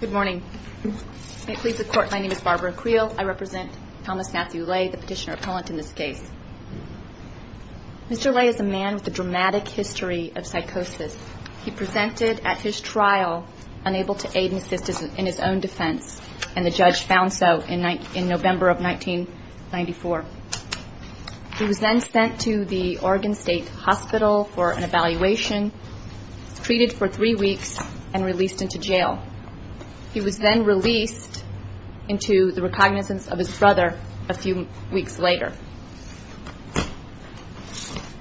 Good morning. May it please the Court, my name is Barbara Creel. I represent Thomas Matthew Lay, the petitioner appellant in this case. Mr. Lay is a man with a dramatic history of psychosis. He presented at his trial unable to aid and assist in his own defense, and the judge found so in November of 1994. He was then sent to the Oregon State Hospital for an evaluation, treated for three weeks, and released into jail. He was then released into the recognizance of his brother a few weeks later.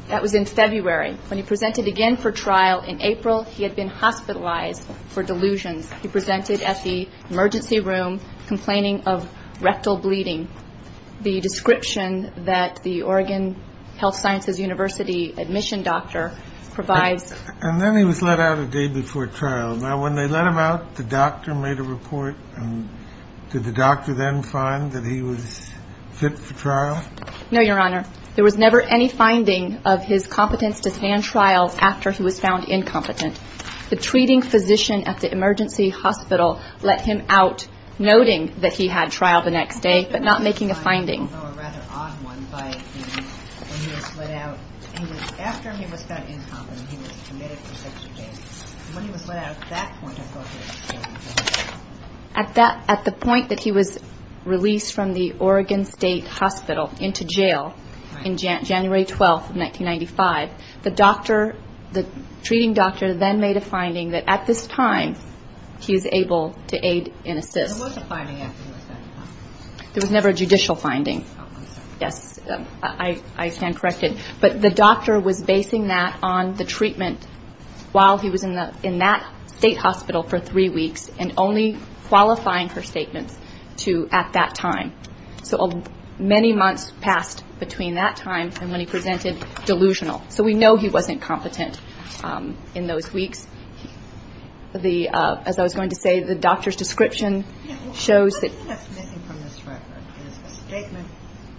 That was in February. When he presented again for trial in April, he had been hospitalized for delusions. He presented at the emergency room complaining of rectal bleeding. The description that the Oregon Health Sciences University admission doctor provides And then he was let out a day before trial. Now, when they let him out, the doctor made a report, and did the doctor then find that he was fit for trial? No, Your Honor. There was never any finding of his competence to stand trial after he was found incompetent. The treating physician at the emergency hospital let him out, noting that he had trial the next day, but not making a finding. I know a rather odd one. When he was let out, after he was found incompetent, he was committed for 60 days. When he was let out at that point, I thought he was still incompetent. At the point that he was released from the Oregon State Hospital into jail in January 12, 1995, the treating doctor then made a finding that at this time he was able to aid in assist. There was never a judicial finding. Yes, I stand corrected. But the doctor was basing that on the treatment while he was in that state hospital for three weeks, and only qualifying her statements at that time. So many months passed between that time and when he presented delusional. So we know he wasn't competent in those weeks. As I was saying, the description shows that. What is missing from this record is a statement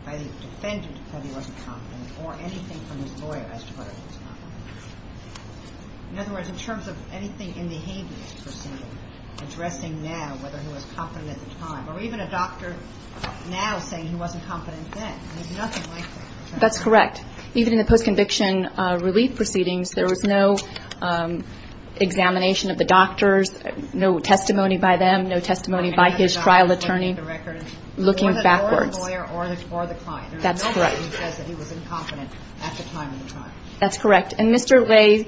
by the defendant that he wasn't competent or anything from his lawyer as to whether he was competent. In other words, in terms of anything in the Habeas proceeding, addressing now whether he was competent at the time, or even a doctor now saying he wasn't competent then. There's nothing like that. That's correct. Even in the post-conviction relief proceedings, there was no examination of the doctors, no testimony by them, no testimony by his trial attorney, looking backwards. That's correct. That's correct. And Mr. Ray's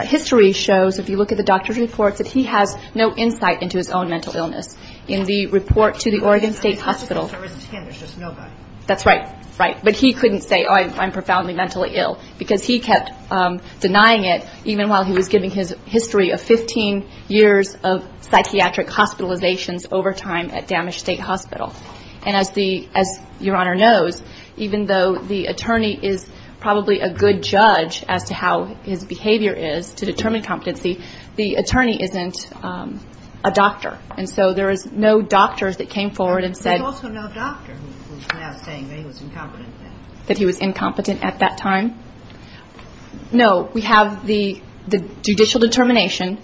history shows, if you look at the doctor's reports, that he has no insight into his own mental illness. In the report to the Oregon State Hospital. That's right. Right. But he couldn't say, oh, I'm profoundly mentally ill, because he kept denying it even while he was giving his history of 15 years of psychiatric hospitalizations over time at Damage State Hospital. And as the, as Your Honor knows, even though the attorney is probably a good judge as to how his behavior is to determine competency, the attorney isn't a doctor. And so there is no doctors that came forward and said. There's also no doctor who's now saying that he was incompetent then. That he was incompetent at that time. No, we have the judicial determination,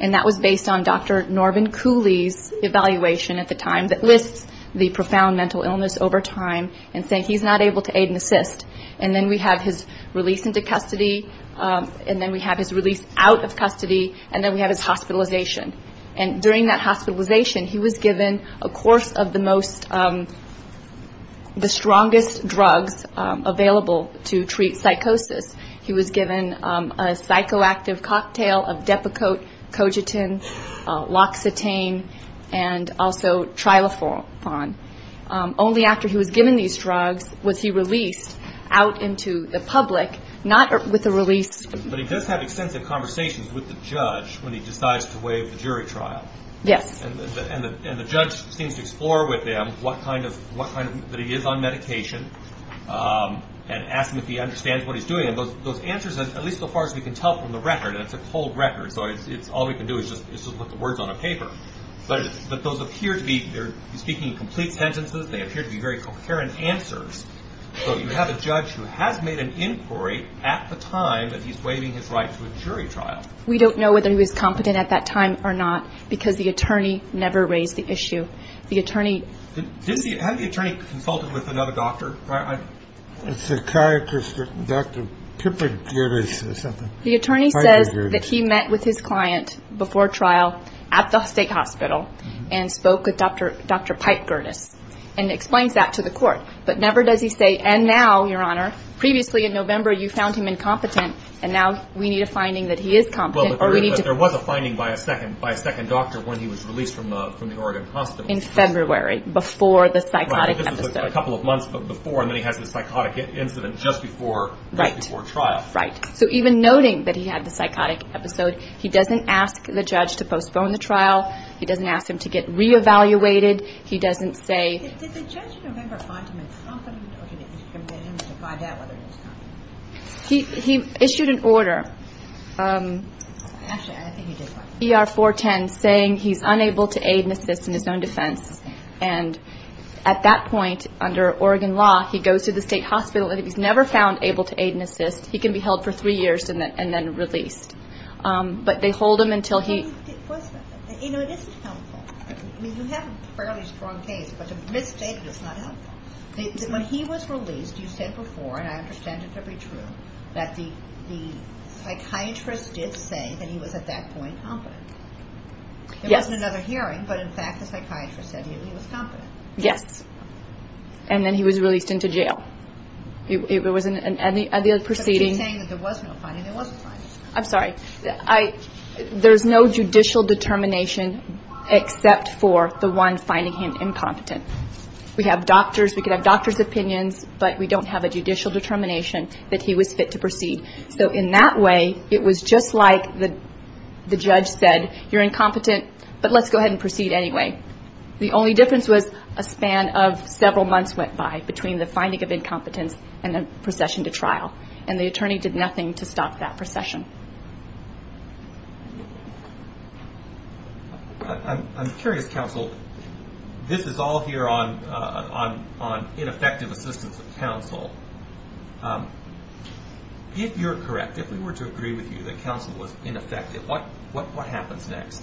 and that was based on Dr. Norbin Cooley's evaluation at the time that lists the profound mental illness over time, and saying he's not able to aid and assist. And then we have his release into custody, and then we have his release out of custody, and then we have his hospitalization. And during that hospitalization, he was given a course of the most, the strongest drugs available to treat psychosis. He was given a psychoactive cocktail of Depakote, Cogitin, Loxetane, and also Trilofan. Only after he was given these drugs was he released out into the public, not with a release. But he does have extensive conversations with the judge when he decides to waive the jury trial. Yes. And the judge seems to explore with him what kind of, what kind of, that he is on medication, and ask him if he understands what he's doing. And those answers, at least so far as we can tell from the record, and it's a cold record, so it's, all we can do is just put the words on a paper. But those appear to be, they're speaking in complete sentences, they appear to be very coherent answers. So you have a judge who has made an inquiry at the time that he's waiving his right to a jury trial. We don't know whether he was competent at that time or not, because the attorney never raised the issue. The attorney... Didn't the, hadn't the attorney consulted with another doctor? A psychiatrist, Dr. Piper Gerdes or something. The attorney says that he met with his client before trial at the state hospital, and spoke with Dr. Pipe Gerdes, and explains that to the court. But never does he say, and now, Your Honor, previously in November you found him incompetent, and now we need a finding that he is competent, or we need to... Well, but there was a finding by a second doctor when he was released from the Oregon hospital. In February, before the psychotic episode. Right, but this is a couple of months before, and then he has this psychotic incident just before trial. Right, right. So even noting that he had the psychotic episode, he doesn't ask the judge to postpone the trial, he doesn't ask him to get re-evaluated, he doesn't say... Did the judge in November find him incompetent, or did he get permission to find out whether he was competent? He issued an order, ER-410, saying he's unable to aid and assist in his own defense. And at that point, under Oregon law, he goes to the state hospital, and if he's never found able to aid and assist, he can be held for three years and then released. But they hold him until he... You know, it isn't helpful. I mean, you have a fairly strong case, but to misstate it is not helpful. When he was released, you said before, and I understand it to be true, that the psychiatrist did say that he was, at that point, competent. Yes. There wasn't another hearing, but in fact, the psychiatrist said he was competent. Yes. And then he was released into jail. It was at the proceeding... But you're saying that there was no finding, there was a finding. I'm sorry. There's no judicial determination except for the one finding him incompetent. We have doctors. We could have doctors' opinions, but we don't have a judicial determination that he was fit to proceed. So in that way, it was just like the judge said, you're incompetent, but let's go ahead and proceed anyway. The only difference was a span of several months went by between the finding of incompetence and the procession to trial, and the attorney did nothing to stop that procession. I'm curious, counsel. This is all here on ineffective assistance of counsel. If you're correct, if we were to agree with you that counsel was ineffective, what happens next?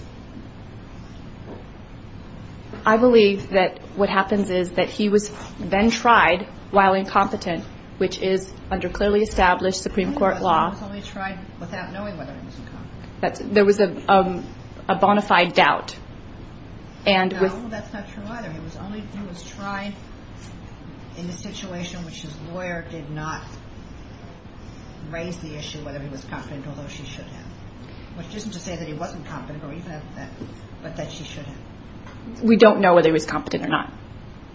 I believe that what happens is that he was then tried while incompetent, which is under clearly established Supreme Court law. He was only tried without knowing whether he was incompetent. There was a bona fide doubt. No, that's not true either. He was tried in the situation in which his lawyer did not raise the issue whether he was competent, although she should have. Which isn't to say that he wasn't competent, but that she should have. We don't know whether he was competent or not.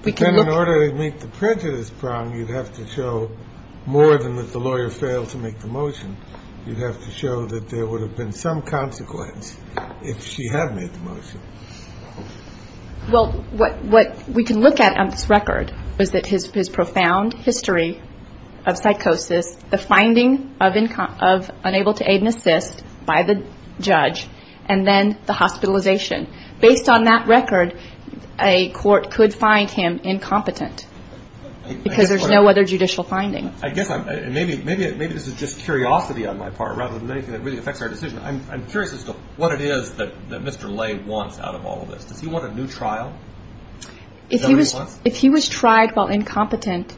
Then in order to meet the prejudice prong, you'd have to show more than that the lawyer failed to make the motion. You'd have to show that there would have been some consequence if she had made the motion. Well, what we can look at on this record is that his profound history of psychosis, the finding of unable to aid and assist by the judge, and then the hospitalization. Based on that record, a court could find him incompetent because there's no other judicial finding. Maybe this is just curiosity on my part rather than anything that really affects our decision. I'm curious as to what it is that Mr. Lay wants out of all of this. Does he want a new trial? If he was tried while incompetent,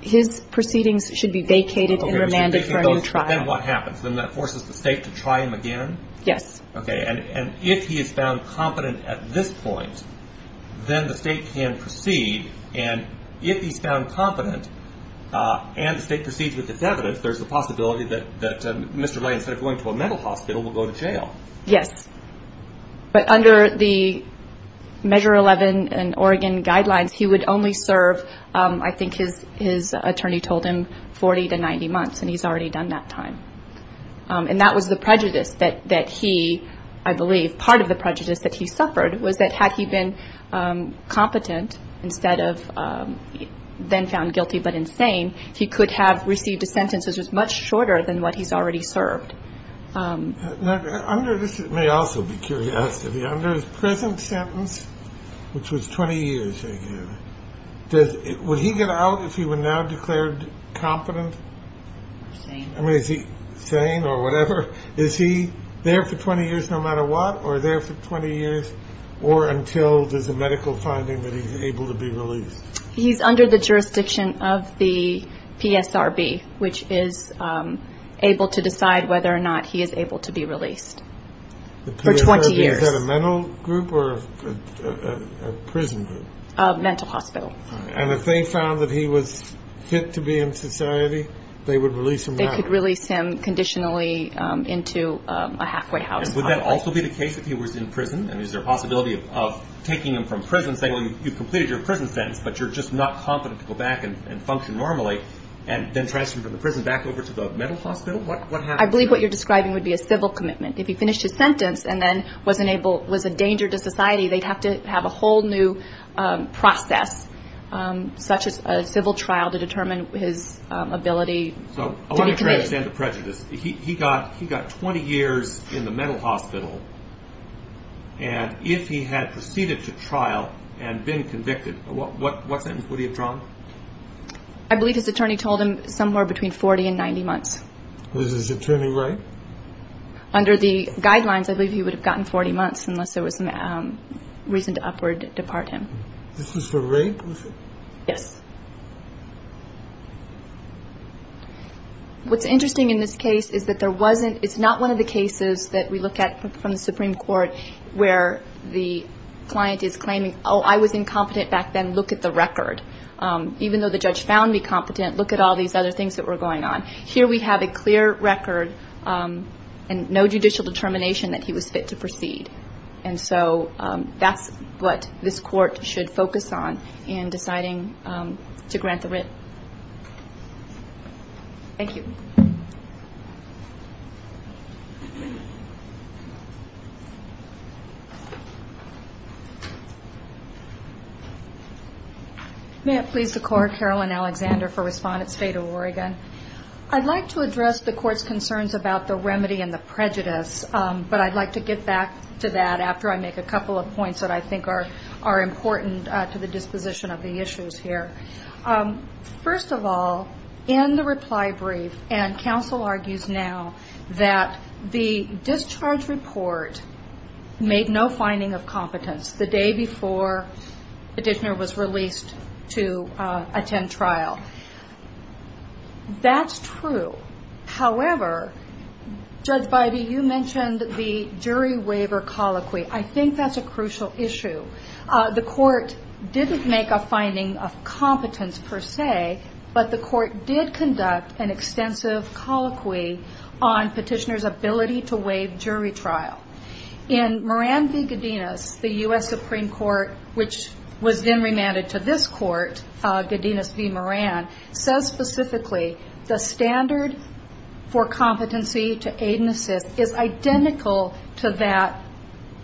his proceedings should be vacated and remanded for a new trial. But then what happens? Then that forces the state to try him again? Yes. Okay, and if he is found competent at this point, then the state can proceed. And if he's found competent and the state proceeds with his evidence, there's a possibility that Mr. Lay, instead of going to a mental hospital, will go to jail. Yes. But under the Measure 11 in Oregon guidelines, he would only serve, I think his attorney told him, 40 to 90 months. And he's already done that time. And that was the prejudice that he, I believe, part of the prejudice that he suffered, was that had he been competent instead of then found guilty but insane, he could have received a sentence that was much shorter than what he's already served. Under this, it may also be curiosity, under his present sentence, which was 20 years ago, would he get out if he were now declared competent? Insane. I mean, is he sane or whatever? Is he there for 20 years no matter what or there for 20 years or until there's a medical finding that he's able to be released? He's under the jurisdiction of the PSRB, which is able to decide whether or not he is able to be released for 20 years. The PSRB, is that a mental group or a prison group? A mental hospital. And if they found that he was fit to be in society, they would release him now? They could release him conditionally into a halfway house. Would that also be the case if he was in prison? Is there a possibility of taking him from prison, saying you've completed your prison sentence, but you're just not competent to go back and function normally, and then transfer him from the prison back over to the mental hospital? I believe what you're describing would be a civil commitment. If he finished his sentence and then was a danger to society, they'd have to have a whole new process, such as a civil trial, to determine his ability to be committed. I want to understand the prejudice. He got 20 years in the mental hospital, and if he had proceeded to trial and been convicted, what sentence would he have drawn? I believe his attorney told him somewhere between 40 and 90 months. Was his attorney right? Under the guidelines, I believe he would have gotten 40 months unless there was reason to upward depart him. This was for rape, was it? Yes. What's interesting in this case is that it's not one of the cases that we look at from the Supreme Court where the client is claiming, oh, I was incompetent back then, look at the record. Even though the judge found me competent, look at all these other things that were going on. Here we have a clear record and no judicial determination that he was fit to proceed. That's what this court should focus on in deciding to grant the writ. Thank you. May it please the Court, Carolyn Alexander for Respondent State of Oregon. I'd like to address the Court's concerns about the remedy and the prejudice, but I'd like to get back to that after I make a couple of points that I think are important to the disposition of the issues here. First of all, in the reply brief, and counsel argues now that the discharge report made no finding of competence the day before the petitioner was released to attend trial. That's true. However, Judge Beide, you mentioned the jury waiver colloquy. I think that's a crucial issue. The Court didn't make a finding of competence per se, but the Court did conduct an extensive colloquy on petitioner's ability to waive jury trial. In Moran v. Godinez, the U.S. Supreme Court, which was then remanded to this Court, Godinez v. Moran, says specifically the standard for competency to aid and assist is identical to that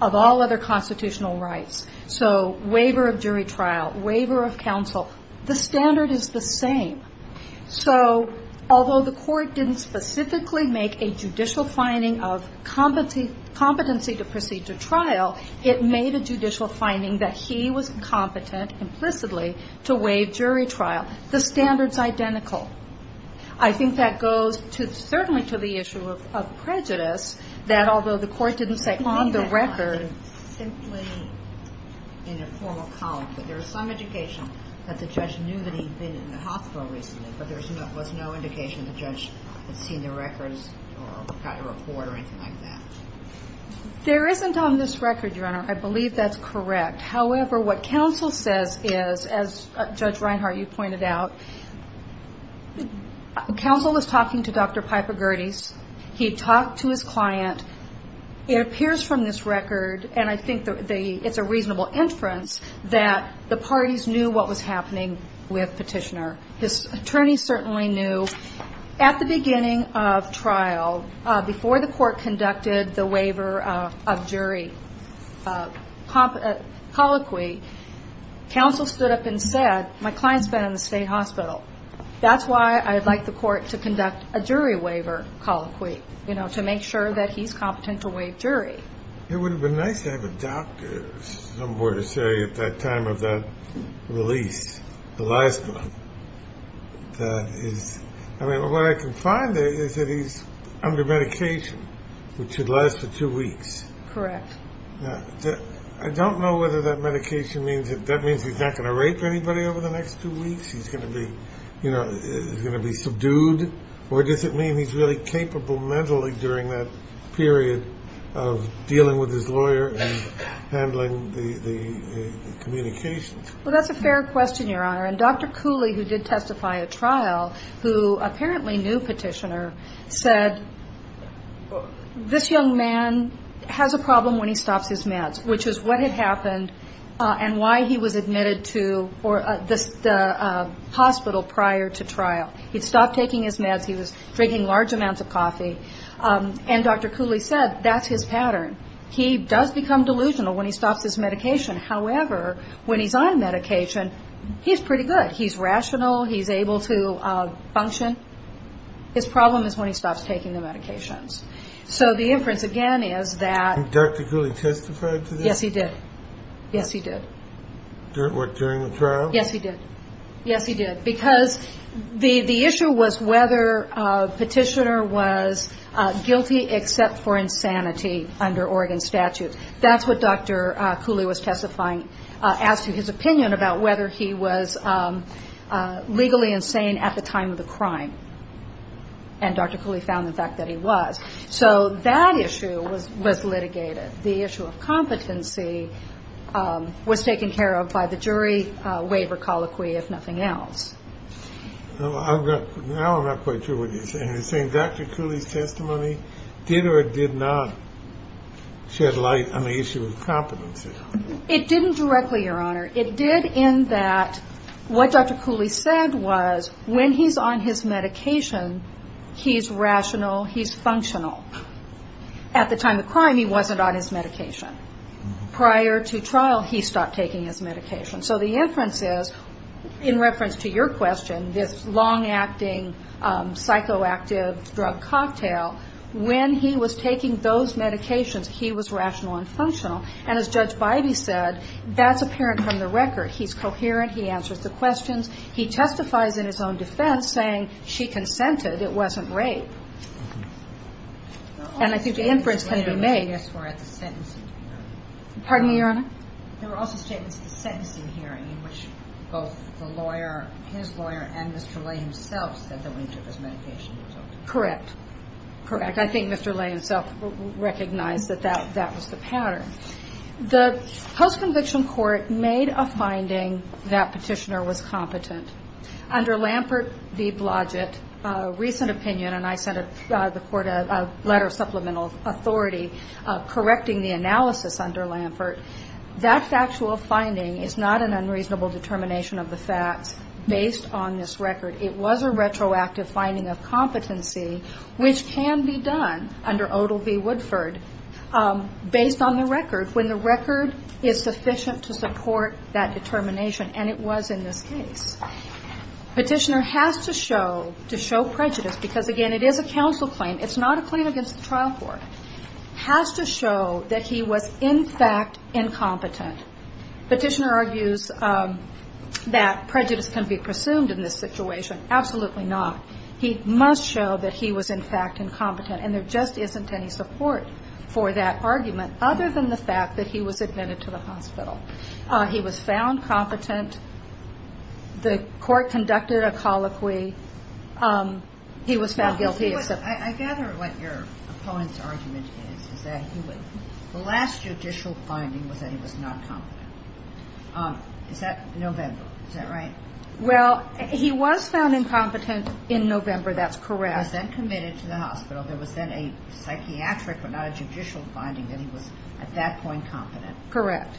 of all other constitutional rights. So waiver of jury trial, waiver of counsel, the standard is the same. So although the Court didn't specifically make a judicial finding of competency to proceed to trial, it made a judicial finding that he was competent implicitly to waive jury trial. The standard's identical. I think that goes certainly to the issue of prejudice, that although the Court didn't say on the record... ...simply in a formal colloquy. There is some indication that the judge knew that he'd been in the hospital recently, but there was no indication the judge had seen the records or got a report or anything like that. There isn't on this record, Your Honor. I believe that's correct. However, what counsel says is, as Judge Reinhart, you pointed out, counsel is talking to Dr. Piper Gerdes. He talked to his client. It appears from this record, and I think it's a reasonable inference, that the parties knew what was happening with Petitioner. His attorneys certainly knew. At the beginning of trial, before the Court conducted the waiver of jury, colloquy, counsel stood up and said, my client's been in the state hospital. That's why I'd like the Court to conduct a jury waiver colloquy, to make sure that he's competent to waive jury. It would have been nice to have a doctor somewhere to say at that time of that release, the last one, that is... I mean, what I can find there is that he's under medication, which should last for two weeks. Correct. I don't know whether that medication means that that means he's not going to rape anybody over the next two weeks, he's going to be subdued, or does it mean he's really capable mentally during that period of dealing with his lawyer and handling the communications? Well, that's a fair question, Your Honor. And Dr. Cooley, who did testify at trial, who apparently knew Petitioner, said, this young man has a problem when he stops his meds, which is what had happened and why he was admitted to the hospital prior to trial. He'd stopped taking his meds. He was drinking large amounts of coffee. And Dr. Cooley said that's his pattern. He does become delusional when he stops his medication. However, when he's on medication, he's pretty good. He's rational. He's able to function. His problem is when he stops taking the medications. So the inference, again, is that Dr. Cooley testified to that? Yes, he did. Yes, he did. What, during the trial? Yes, he did. Yes, he did. Because the issue was whether Petitioner was guilty except for insanity under Oregon statute. That's what Dr. Cooley was testifying as to his opinion about whether he was legally insane at the time of the crime. And Dr. Cooley found the fact that he was. So that issue was litigated. The issue of competency was taken care of by the jury waiver colloquy, if nothing else. Now I'm not quite sure what you're saying. You're saying Dr. Cooley's testimony did or did not shed light on the issue of competency. It didn't directly, Your Honor. It did in that what Dr. Cooley said was when he's on his medication, he's rational, he's functional. At the time of the crime, he wasn't on his medication. Prior to trial, he stopped taking his medication. So the inference is, in reference to your question, this long-acting, psychoactive drug cocktail, when he was taking those medications, he was rational and functional. And as Judge Bidey said, that's apparent from the record. He's coherent. He answers the questions. He testifies in his own defense, saying she consented. It wasn't rape. And I think the inference can be made. Pardon me, Your Honor? There were also statements at the sentencing hearing in which both the lawyer, his lawyer, and Mr. Lay himself said that when he took his medication, he was okay. Correct. Correct. And I think Mr. Lay himself recognized that that was the pattern. The post-conviction court made a finding that Petitioner was competent. Under Lampert v. Blodgett, a recent opinion, and I sent the court a letter of supplemental authority correcting the analysis under Lampert, that factual finding is not an unreasonable determination of the facts based on this record. It was a retroactive finding of competency, which can be done under Odell v. Woodford, based on the record, when the record is sufficient to support that determination, and it was in this case. Petitioner has to show, to show prejudice, because, again, it is a counsel claim. It's not a claim against the trial court. Has to show that he was, in fact, incompetent. Petitioner argues that prejudice can be presumed in this situation. Absolutely not. He must show that he was, in fact, incompetent, and there just isn't any support for that argument other than the fact that he was admitted to the hospital. He was found competent. The court conducted a colloquy. He was found guilty. I gather what your opponent's argument is, is that the last judicial finding was that he was not competent. Is that November? Is that right? Well, he was found incompetent in November. That's correct. He was then committed to the hospital. There was then a psychiatric but not a judicial finding that he was, at that point, competent. Correct.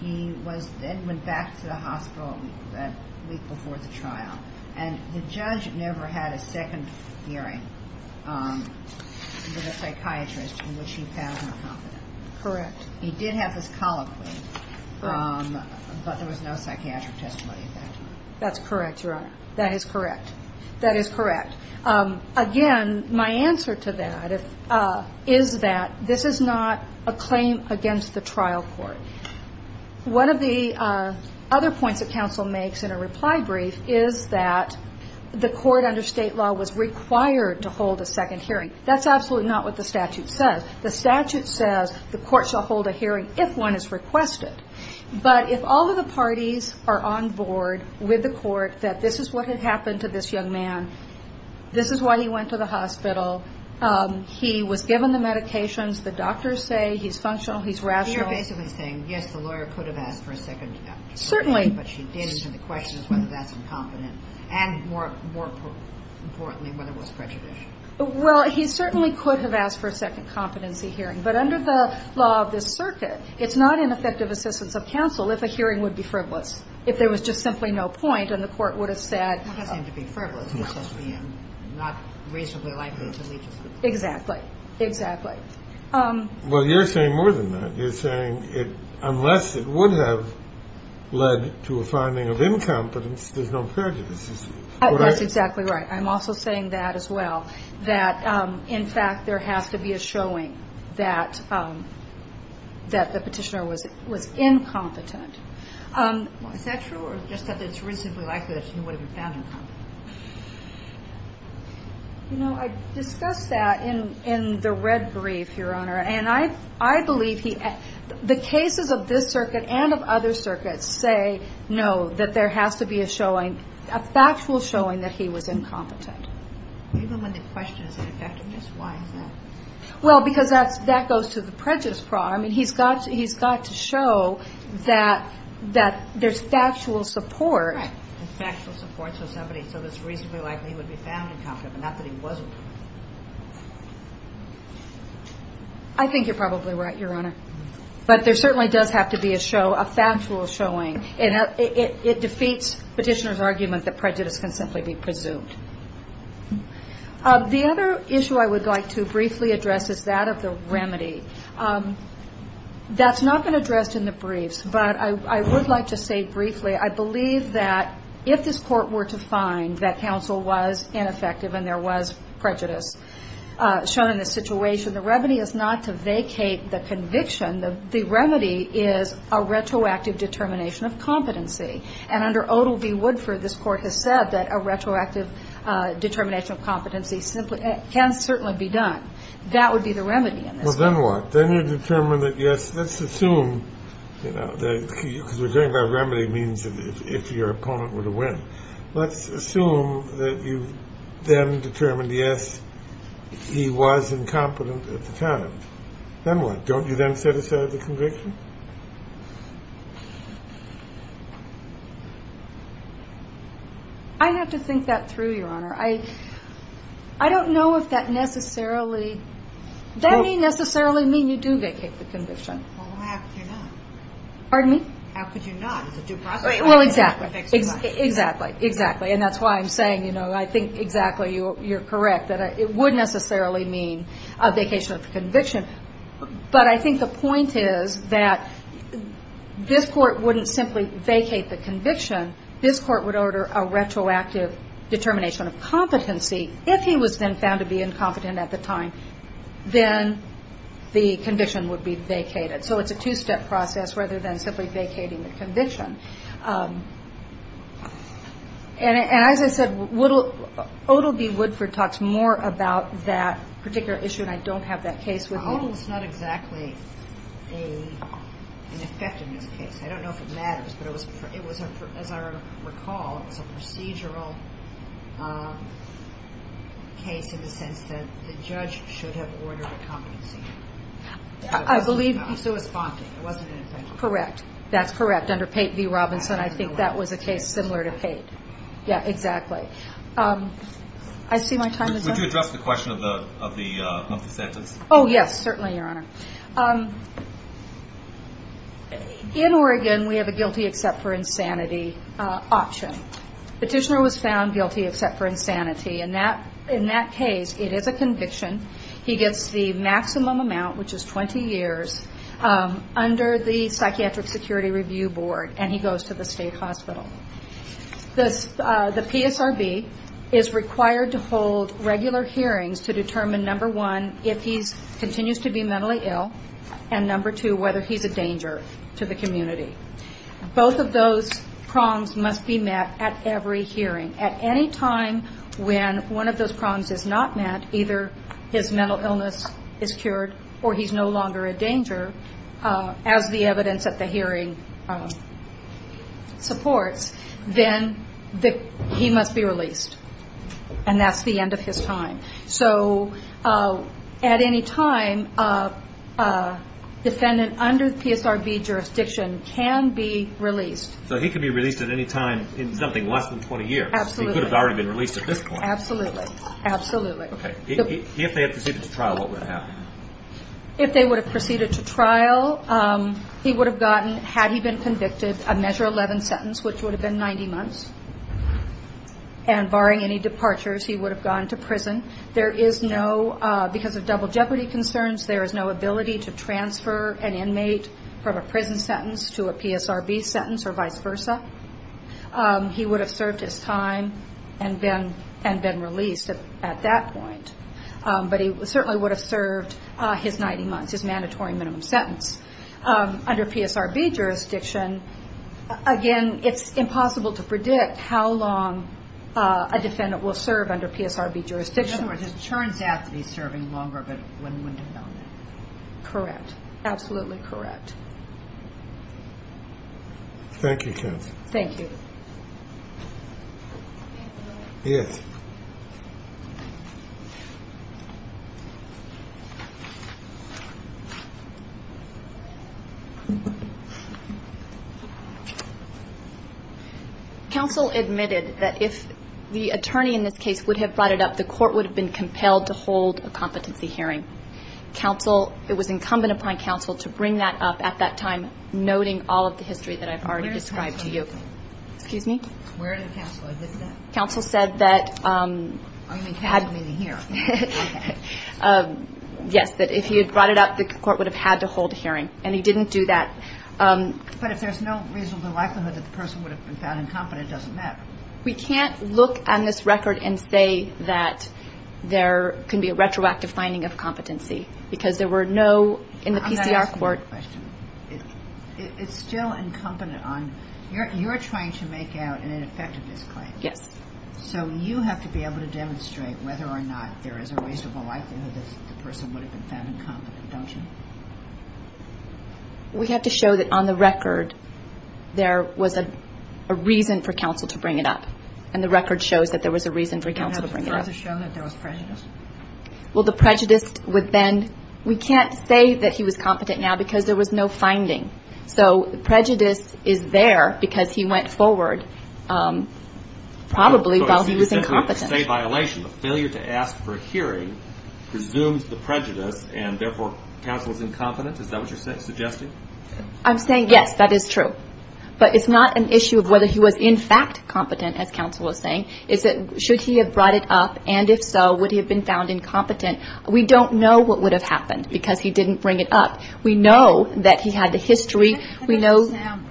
He then went back to the hospital a week before the trial, and the judge never had a second hearing with a psychiatrist in which he found him competent. Correct. He did have his colloquy, but there was no psychiatric testimony of that. That's correct, Your Honor. That is correct. That is correct. Again, my answer to that is that this is not a claim against the trial court. One of the other points that counsel makes in a reply brief is that the court under state law was required to hold a second hearing. That's absolutely not what the statute says. The statute says the court shall hold a hearing if one is requested. But if all of the parties are on board with the court that this is what had happened to this young man, this is why he went to the hospital, he was given the medications, the doctors say he's functional, he's rational. He's basically saying, yes, the lawyer could have asked for a second hearing. Certainly. But she didn't, and the question is whether that's incompetent. And more importantly, whether it was prejudicial. Well, he certainly could have asked for a second competency hearing. But under the law of this circuit, it's not an effective assistance of counsel if a hearing would be frivolous, if there was just simply no point and the court would have said. It doesn't seem to be frivolous. It just seems not reasonably likely to lead to something. Exactly. Exactly. Well, you're saying more than that. You're saying unless it would have led to a finding of incompetence, there's no prejudice. That's exactly right. I'm also saying that as well, that, in fact, there has to be a showing that the petitioner was incompetent. Is that true or just that it's reasonably likely that she would have been found incompetent? You know, I discussed that in the red brief, Your Honor. And I believe the cases of this circuit and of other circuits say no, that there has to be a showing, a factual showing that he was incompetent. Even when the question is effectiveness, why is that? Well, because that goes to the prejudice problem. He's got to show that there's factual support. So it's reasonably likely he would be found incompetent, not that he wasn't. I think you're probably right, Your Honor. But there certainly does have to be a show, a factual showing. And it defeats petitioner's argument that prejudice can simply be presumed. The other issue I would like to briefly address is that of the remedy. That's not been addressed in the briefs, but I would like to say briefly, I believe that if this court were to find that counsel was ineffective and there was prejudice shown in this situation, the remedy is not to vacate the conviction. The remedy is a retroactive determination of competency. And under Odell v. Woodford, this court has said that a retroactive determination of competency can certainly be done. That would be the remedy in this case. Well, then what? Then you determine that, yes, let's assume, you know, because we're talking about remedy means if your opponent were to win. Let's assume that you then determined, yes, he was incompetent at the time. Then what? Don't you then set aside the conviction? I'd have to think that through, Your Honor. I don't know if that necessarily, that may necessarily mean you do vacate the conviction. Well, how could you not? Pardon me? How could you not? It's a due process. Well, exactly, exactly, exactly. And that's why I'm saying, you know, I think exactly you're correct, that it would necessarily mean a vacation of the conviction. But I think the point is that this court wouldn't simply vacate the conviction. This court would order a retroactive determination of competency. If he was then found to be incompetent at the time, then the conviction would be vacated. So it's a two-step process rather than simply vacating the conviction. And as I said, Odal B. Woodford talks more about that particular issue, and I don't have that case with me. I believe Odal was not exactly an effectiveness case. I don't know if it matters, but it was, as I recall, it was a procedural case in the sense that the judge should have ordered a competency. I believe he was responding. It wasn't an effectiveness case. Correct. That's correct. Under Pate v. Robinson, I think that was a case similar to Pate. Yeah, exactly. I see my time is up. Would you address the question of the monthly sentence? Oh, yes, certainly, Your Honor. In Oregon, we have a guilty except for insanity option. Petitioner was found guilty except for insanity. In that case, it is a conviction. He gets the maximum amount, which is 20 years, under the Psychiatric Security Review Board, and he goes to the state hospital. The PSRB is required to hold regular hearings to determine, number one, if he continues to be mentally ill, and number two, whether he's a danger to the community. Both of those prongs must be met at every hearing. At any time when one of those prongs is not met, either his mental illness is cured or he's no longer a danger, as the evidence at the hearing supports, then he must be released. And that's the end of his time. So at any time, a defendant under PSRB jurisdiction can be released. So he can be released at any time in something less than 20 years. Absolutely. He could have already been released at this point. Absolutely. Absolutely. If they had proceeded to trial, what would have happened? If they would have proceeded to trial, he would have gotten, had he been convicted, a measure 11 sentence, which would have been 90 months. And barring any departures, he would have gone to prison. There is no, because of double jeopardy concerns, there is no ability to transfer an inmate from a prison sentence to a PSRB sentence or vice versa. He would have served his time and been released at that point. But he certainly would have served his 90 months, his mandatory minimum sentence. Under PSRB jurisdiction, again, it's impossible to predict how long a defendant will serve under PSRB jurisdiction. In other words, it turns out to be serving longer, but one wouldn't have known that. Correct. Absolutely correct. Thank you, Kathy. Thank you. Yes. Counsel admitted that if the attorney in this case would have brought it up, the court would have been compelled to hold a competency hearing. Counsel, it was incumbent upon counsel to bring that up at that time, noting all of the history that I've already described to you. Excuse me? Where did counsel admit that? Counsel said that had. Oh, you mean counsel didn't hear. Okay. Yes, that if he had brought it up, the court would have had to hold a hearing. And he didn't do that. But if there's no reasonable likelihood that the person would have been found incompetent, it doesn't matter. We can't look on this record and say that there can be a retroactive finding of competency, because there were no in the PCR court. I'm not asking you a question. It's still incumbent on. You're trying to make out an ineffectiveness claim. Yes. So you have to be able to demonstrate whether or not there is a reasonable likelihood that the person would have been found incompetent, don't you? We have to show that on the record there was a reason for counsel to bring it up. And the record shows that there was a reason for counsel to bring it up. You don't have to further show that there was prejudice. Well, the prejudice would then – we can't say that he was competent now because there was no finding. So prejudice is there because he went forward probably while he was incompetent. So you're saying it's a violation, a failure to ask for a hearing presumes the prejudice, and therefore counsel is incompetent? Is that what you're suggesting? I'm saying yes, that is true. But it's not an issue of whether he was in fact competent, as counsel was saying. It's that should he have brought it up, and if so, would he have been found incompetent? We don't know what would have happened because he didn't bring it up. We know that he had a history. That doesn't sound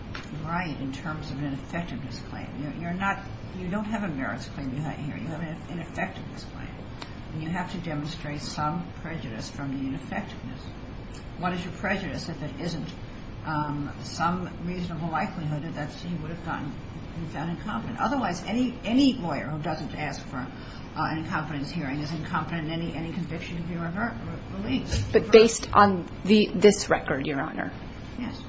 right in terms of an ineffectiveness claim. You're not – you don't have a merits claim you have here. You have an ineffectiveness claim. And you have to demonstrate some prejudice from the ineffectiveness. What is your prejudice if it isn't some reasonable likelihood that he would have been found incompetent? Otherwise, any lawyer who doesn't ask for an incompetence hearing is incompetent in any conviction to be released. But based on this record, Your Honor,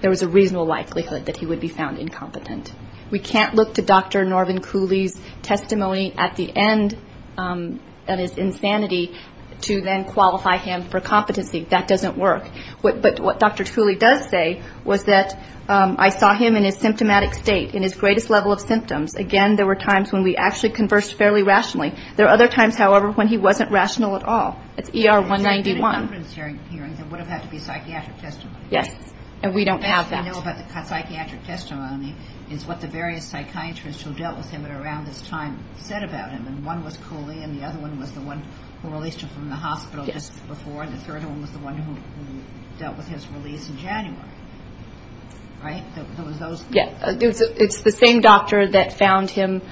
there was a reasonable likelihood that he would be found incompetent. We can't look to Dr. Norman Cooley's testimony at the end of his insanity to then qualify him for competency. That doesn't work. But what Dr. Cooley does say was that I saw him in his symptomatic state, in his greatest level of symptoms. Again, there were times when we actually conversed fairly rationally. There were other times, however, when he wasn't rational at all. It's ER-191. In an incompetence hearing, there would have had to be a psychiatric testimony. Yes. And we don't have that. The best we know about the psychiatric testimony is what the various psychiatrists who dealt with him around this time said about him. And one was Cooley, and the other one was the one who released him from the hospital just before. And the third one was the one who dealt with his release in January. Right? There was those. Yes. It's the same doctor that found him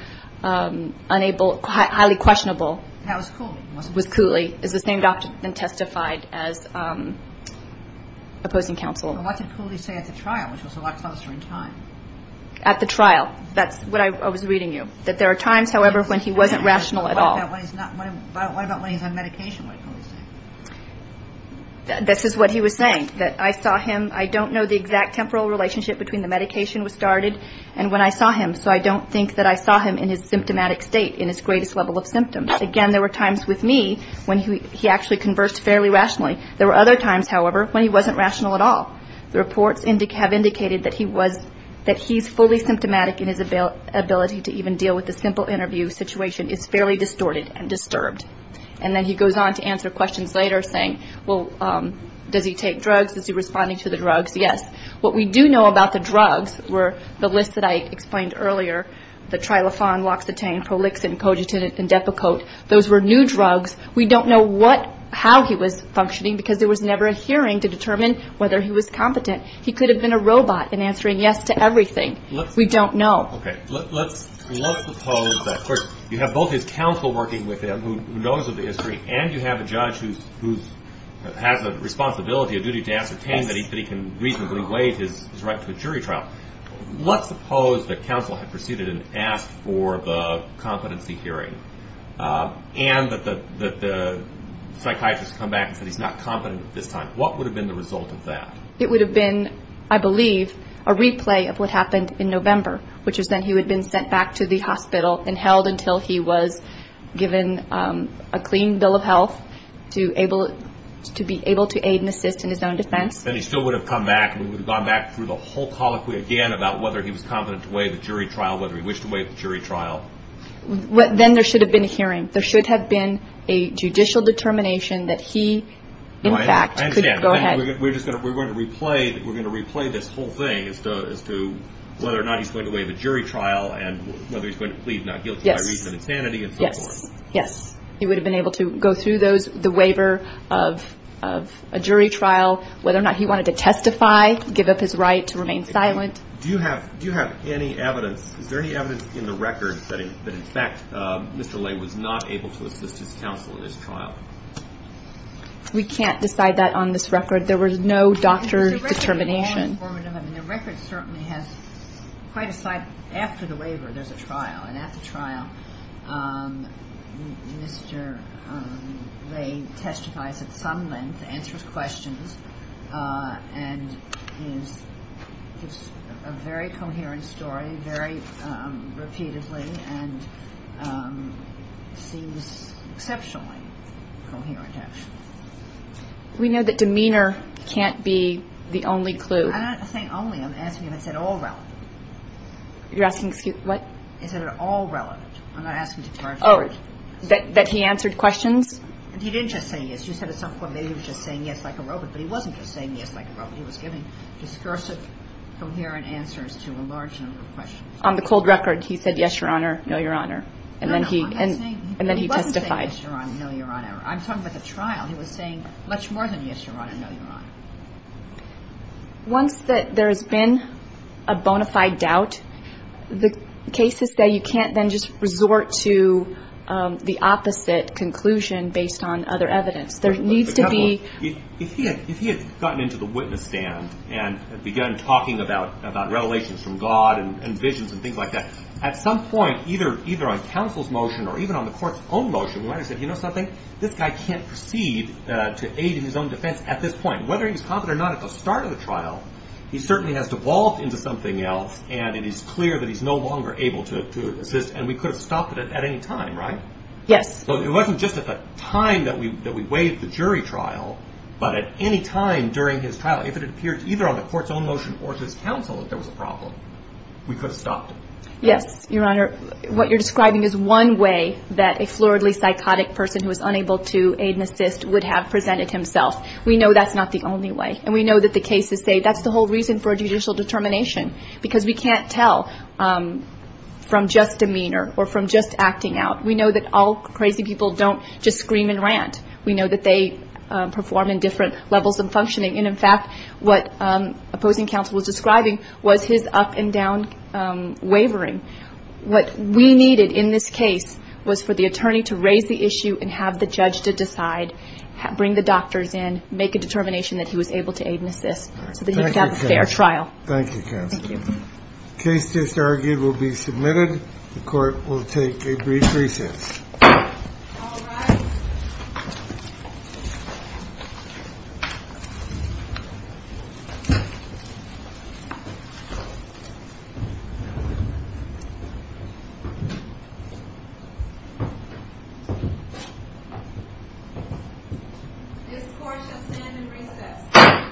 unable, highly questionable. That was Cooley, wasn't it? Was Cooley. It's the same doctor that testified as opposing counsel. Well, what did Cooley say at the trial, which was a lot closer in time? At the trial. That's what I was reading you, that there are times, however, when he wasn't rational at all. What about when he's on medication, what did Cooley say? This is what he was saying, that I saw him, I don't know the exact temporal relationship between the medication was started and when I saw him, so I don't think that I saw him in his symptomatic state, in his greatest level of symptoms. Again, there were times with me when he actually conversed fairly rationally. There were other times, however, when he wasn't rational at all. The reports have indicated that he's fully symptomatic, and his ability to even deal with the simple interview situation is fairly distorted and disturbed. And then he goes on to answer questions later, saying, well, does he take drugs? Is he responding to the drugs? Yes. What we do know about the drugs were the list that I explained earlier, the Trilofan, Loxetane, Prolixen, Cogitin, and Depakote. Those were new drugs. We don't know how he was functioning because there was never a hearing to determine whether he was competent. He could have been a robot in answering yes to everything. We don't know. Okay. Let's suppose that, of course, you have both his counsel working with him who knows of the history and you have a judge who has a responsibility, a duty to ascertain that he can reasonably waive his right to a jury trial. Let's suppose that counsel had proceeded and asked for the competency hearing and that the psychiatrist had come back and said he's not competent at this time. What would have been the result of that? It would have been, I believe, a replay of what happened in November, which is that he would have been sent back to the hospital and held until he was given a clean bill of health to be able to aid and assist in his own defense. Then he still would have come back and we would have gone back through the whole colloquy again about whether he was competent to waive the jury trial, whether he wished to waive the jury trial. Then there should have been a hearing. There should have been a judicial determination that he, in fact, could go ahead. I understand. We're going to replay this whole thing as to whether or not he's going to waive a jury trial and whether he's going to plead not guilty by reason of sanity and so forth. Yes. He would have been able to go through the waiver of a jury trial, whether or not he wanted to testify, give up his right to remain silent. Do you have any evidence? Is there any evidence in the record that, in fact, Mr. Lay was not able to assist his counsel in his trial? We can't decide that on this record. There was no doctor's determination. The record certainly has quite a sight. After the waiver, there's a trial, and at the trial, Mr. Lay testifies at some length, answers questions, and it's a very coherent story, very repeatedly, and seems exceptionally coherent, actually. We know that demeanor can't be the only clue. I'm not saying only. I'm asking if it's at all relevant. You're asking what? Is it at all relevant? I'm not asking to clarify. Oh, that he answered questions? He didn't just say yes. You said at some point that he was just saying yes like a robot, but he wasn't just saying yes like a robot. He was giving discursive, coherent answers to a large number of questions. On the cold record, he said yes, Your Honor, no, Your Honor, and then he testified. No, no, I'm not saying he wasn't saying yes, Your Honor, no, Your Honor. I'm talking about the trial. He was saying much more than yes, Your Honor, no, Your Honor. Once there has been a bona fide doubt, the cases say you can't then just resort to the opposite conclusion based on other evidence. There needs to be ---- If he had gotten into the witness stand and begun talking about revelations from God and visions and things like that, at some point, either on counsel's motion or even on the court's own motion, when I said, you know something, this guy can't proceed to aid in his own defense at this point. Whether he was confident or not at the start of the trial, he certainly has devolved into something else, and it is clear that he's no longer able to assist, and we could have stopped it at any time, right? Yes. It wasn't just at the time that we waived the jury trial, but at any time during his trial. If it had appeared either on the court's own motion or to his counsel that there was a problem, we could have stopped it. Yes, Your Honor. What you're describing is one way that a floridly, psychotic person who is unable to aid and assist would have presented himself. We know that's not the only way, and we know that the cases say that's the whole reason for judicial determination, because we can't tell from just demeanor or from just acting out. We know that all crazy people don't just scream and rant. We know that they perform in different levels of functioning, and, in fact, what opposing counsel was describing was his up-and-down wavering. What we needed in this case was for the attorney to raise the issue and have the judge to decide, bring the doctors in, make a determination that he was able to aid and assist so that he could have a fair trial. Thank you, counsel. Thank you. The case just argued will be submitted. The court will take a brief recess. All rise. This court shall stand in recess.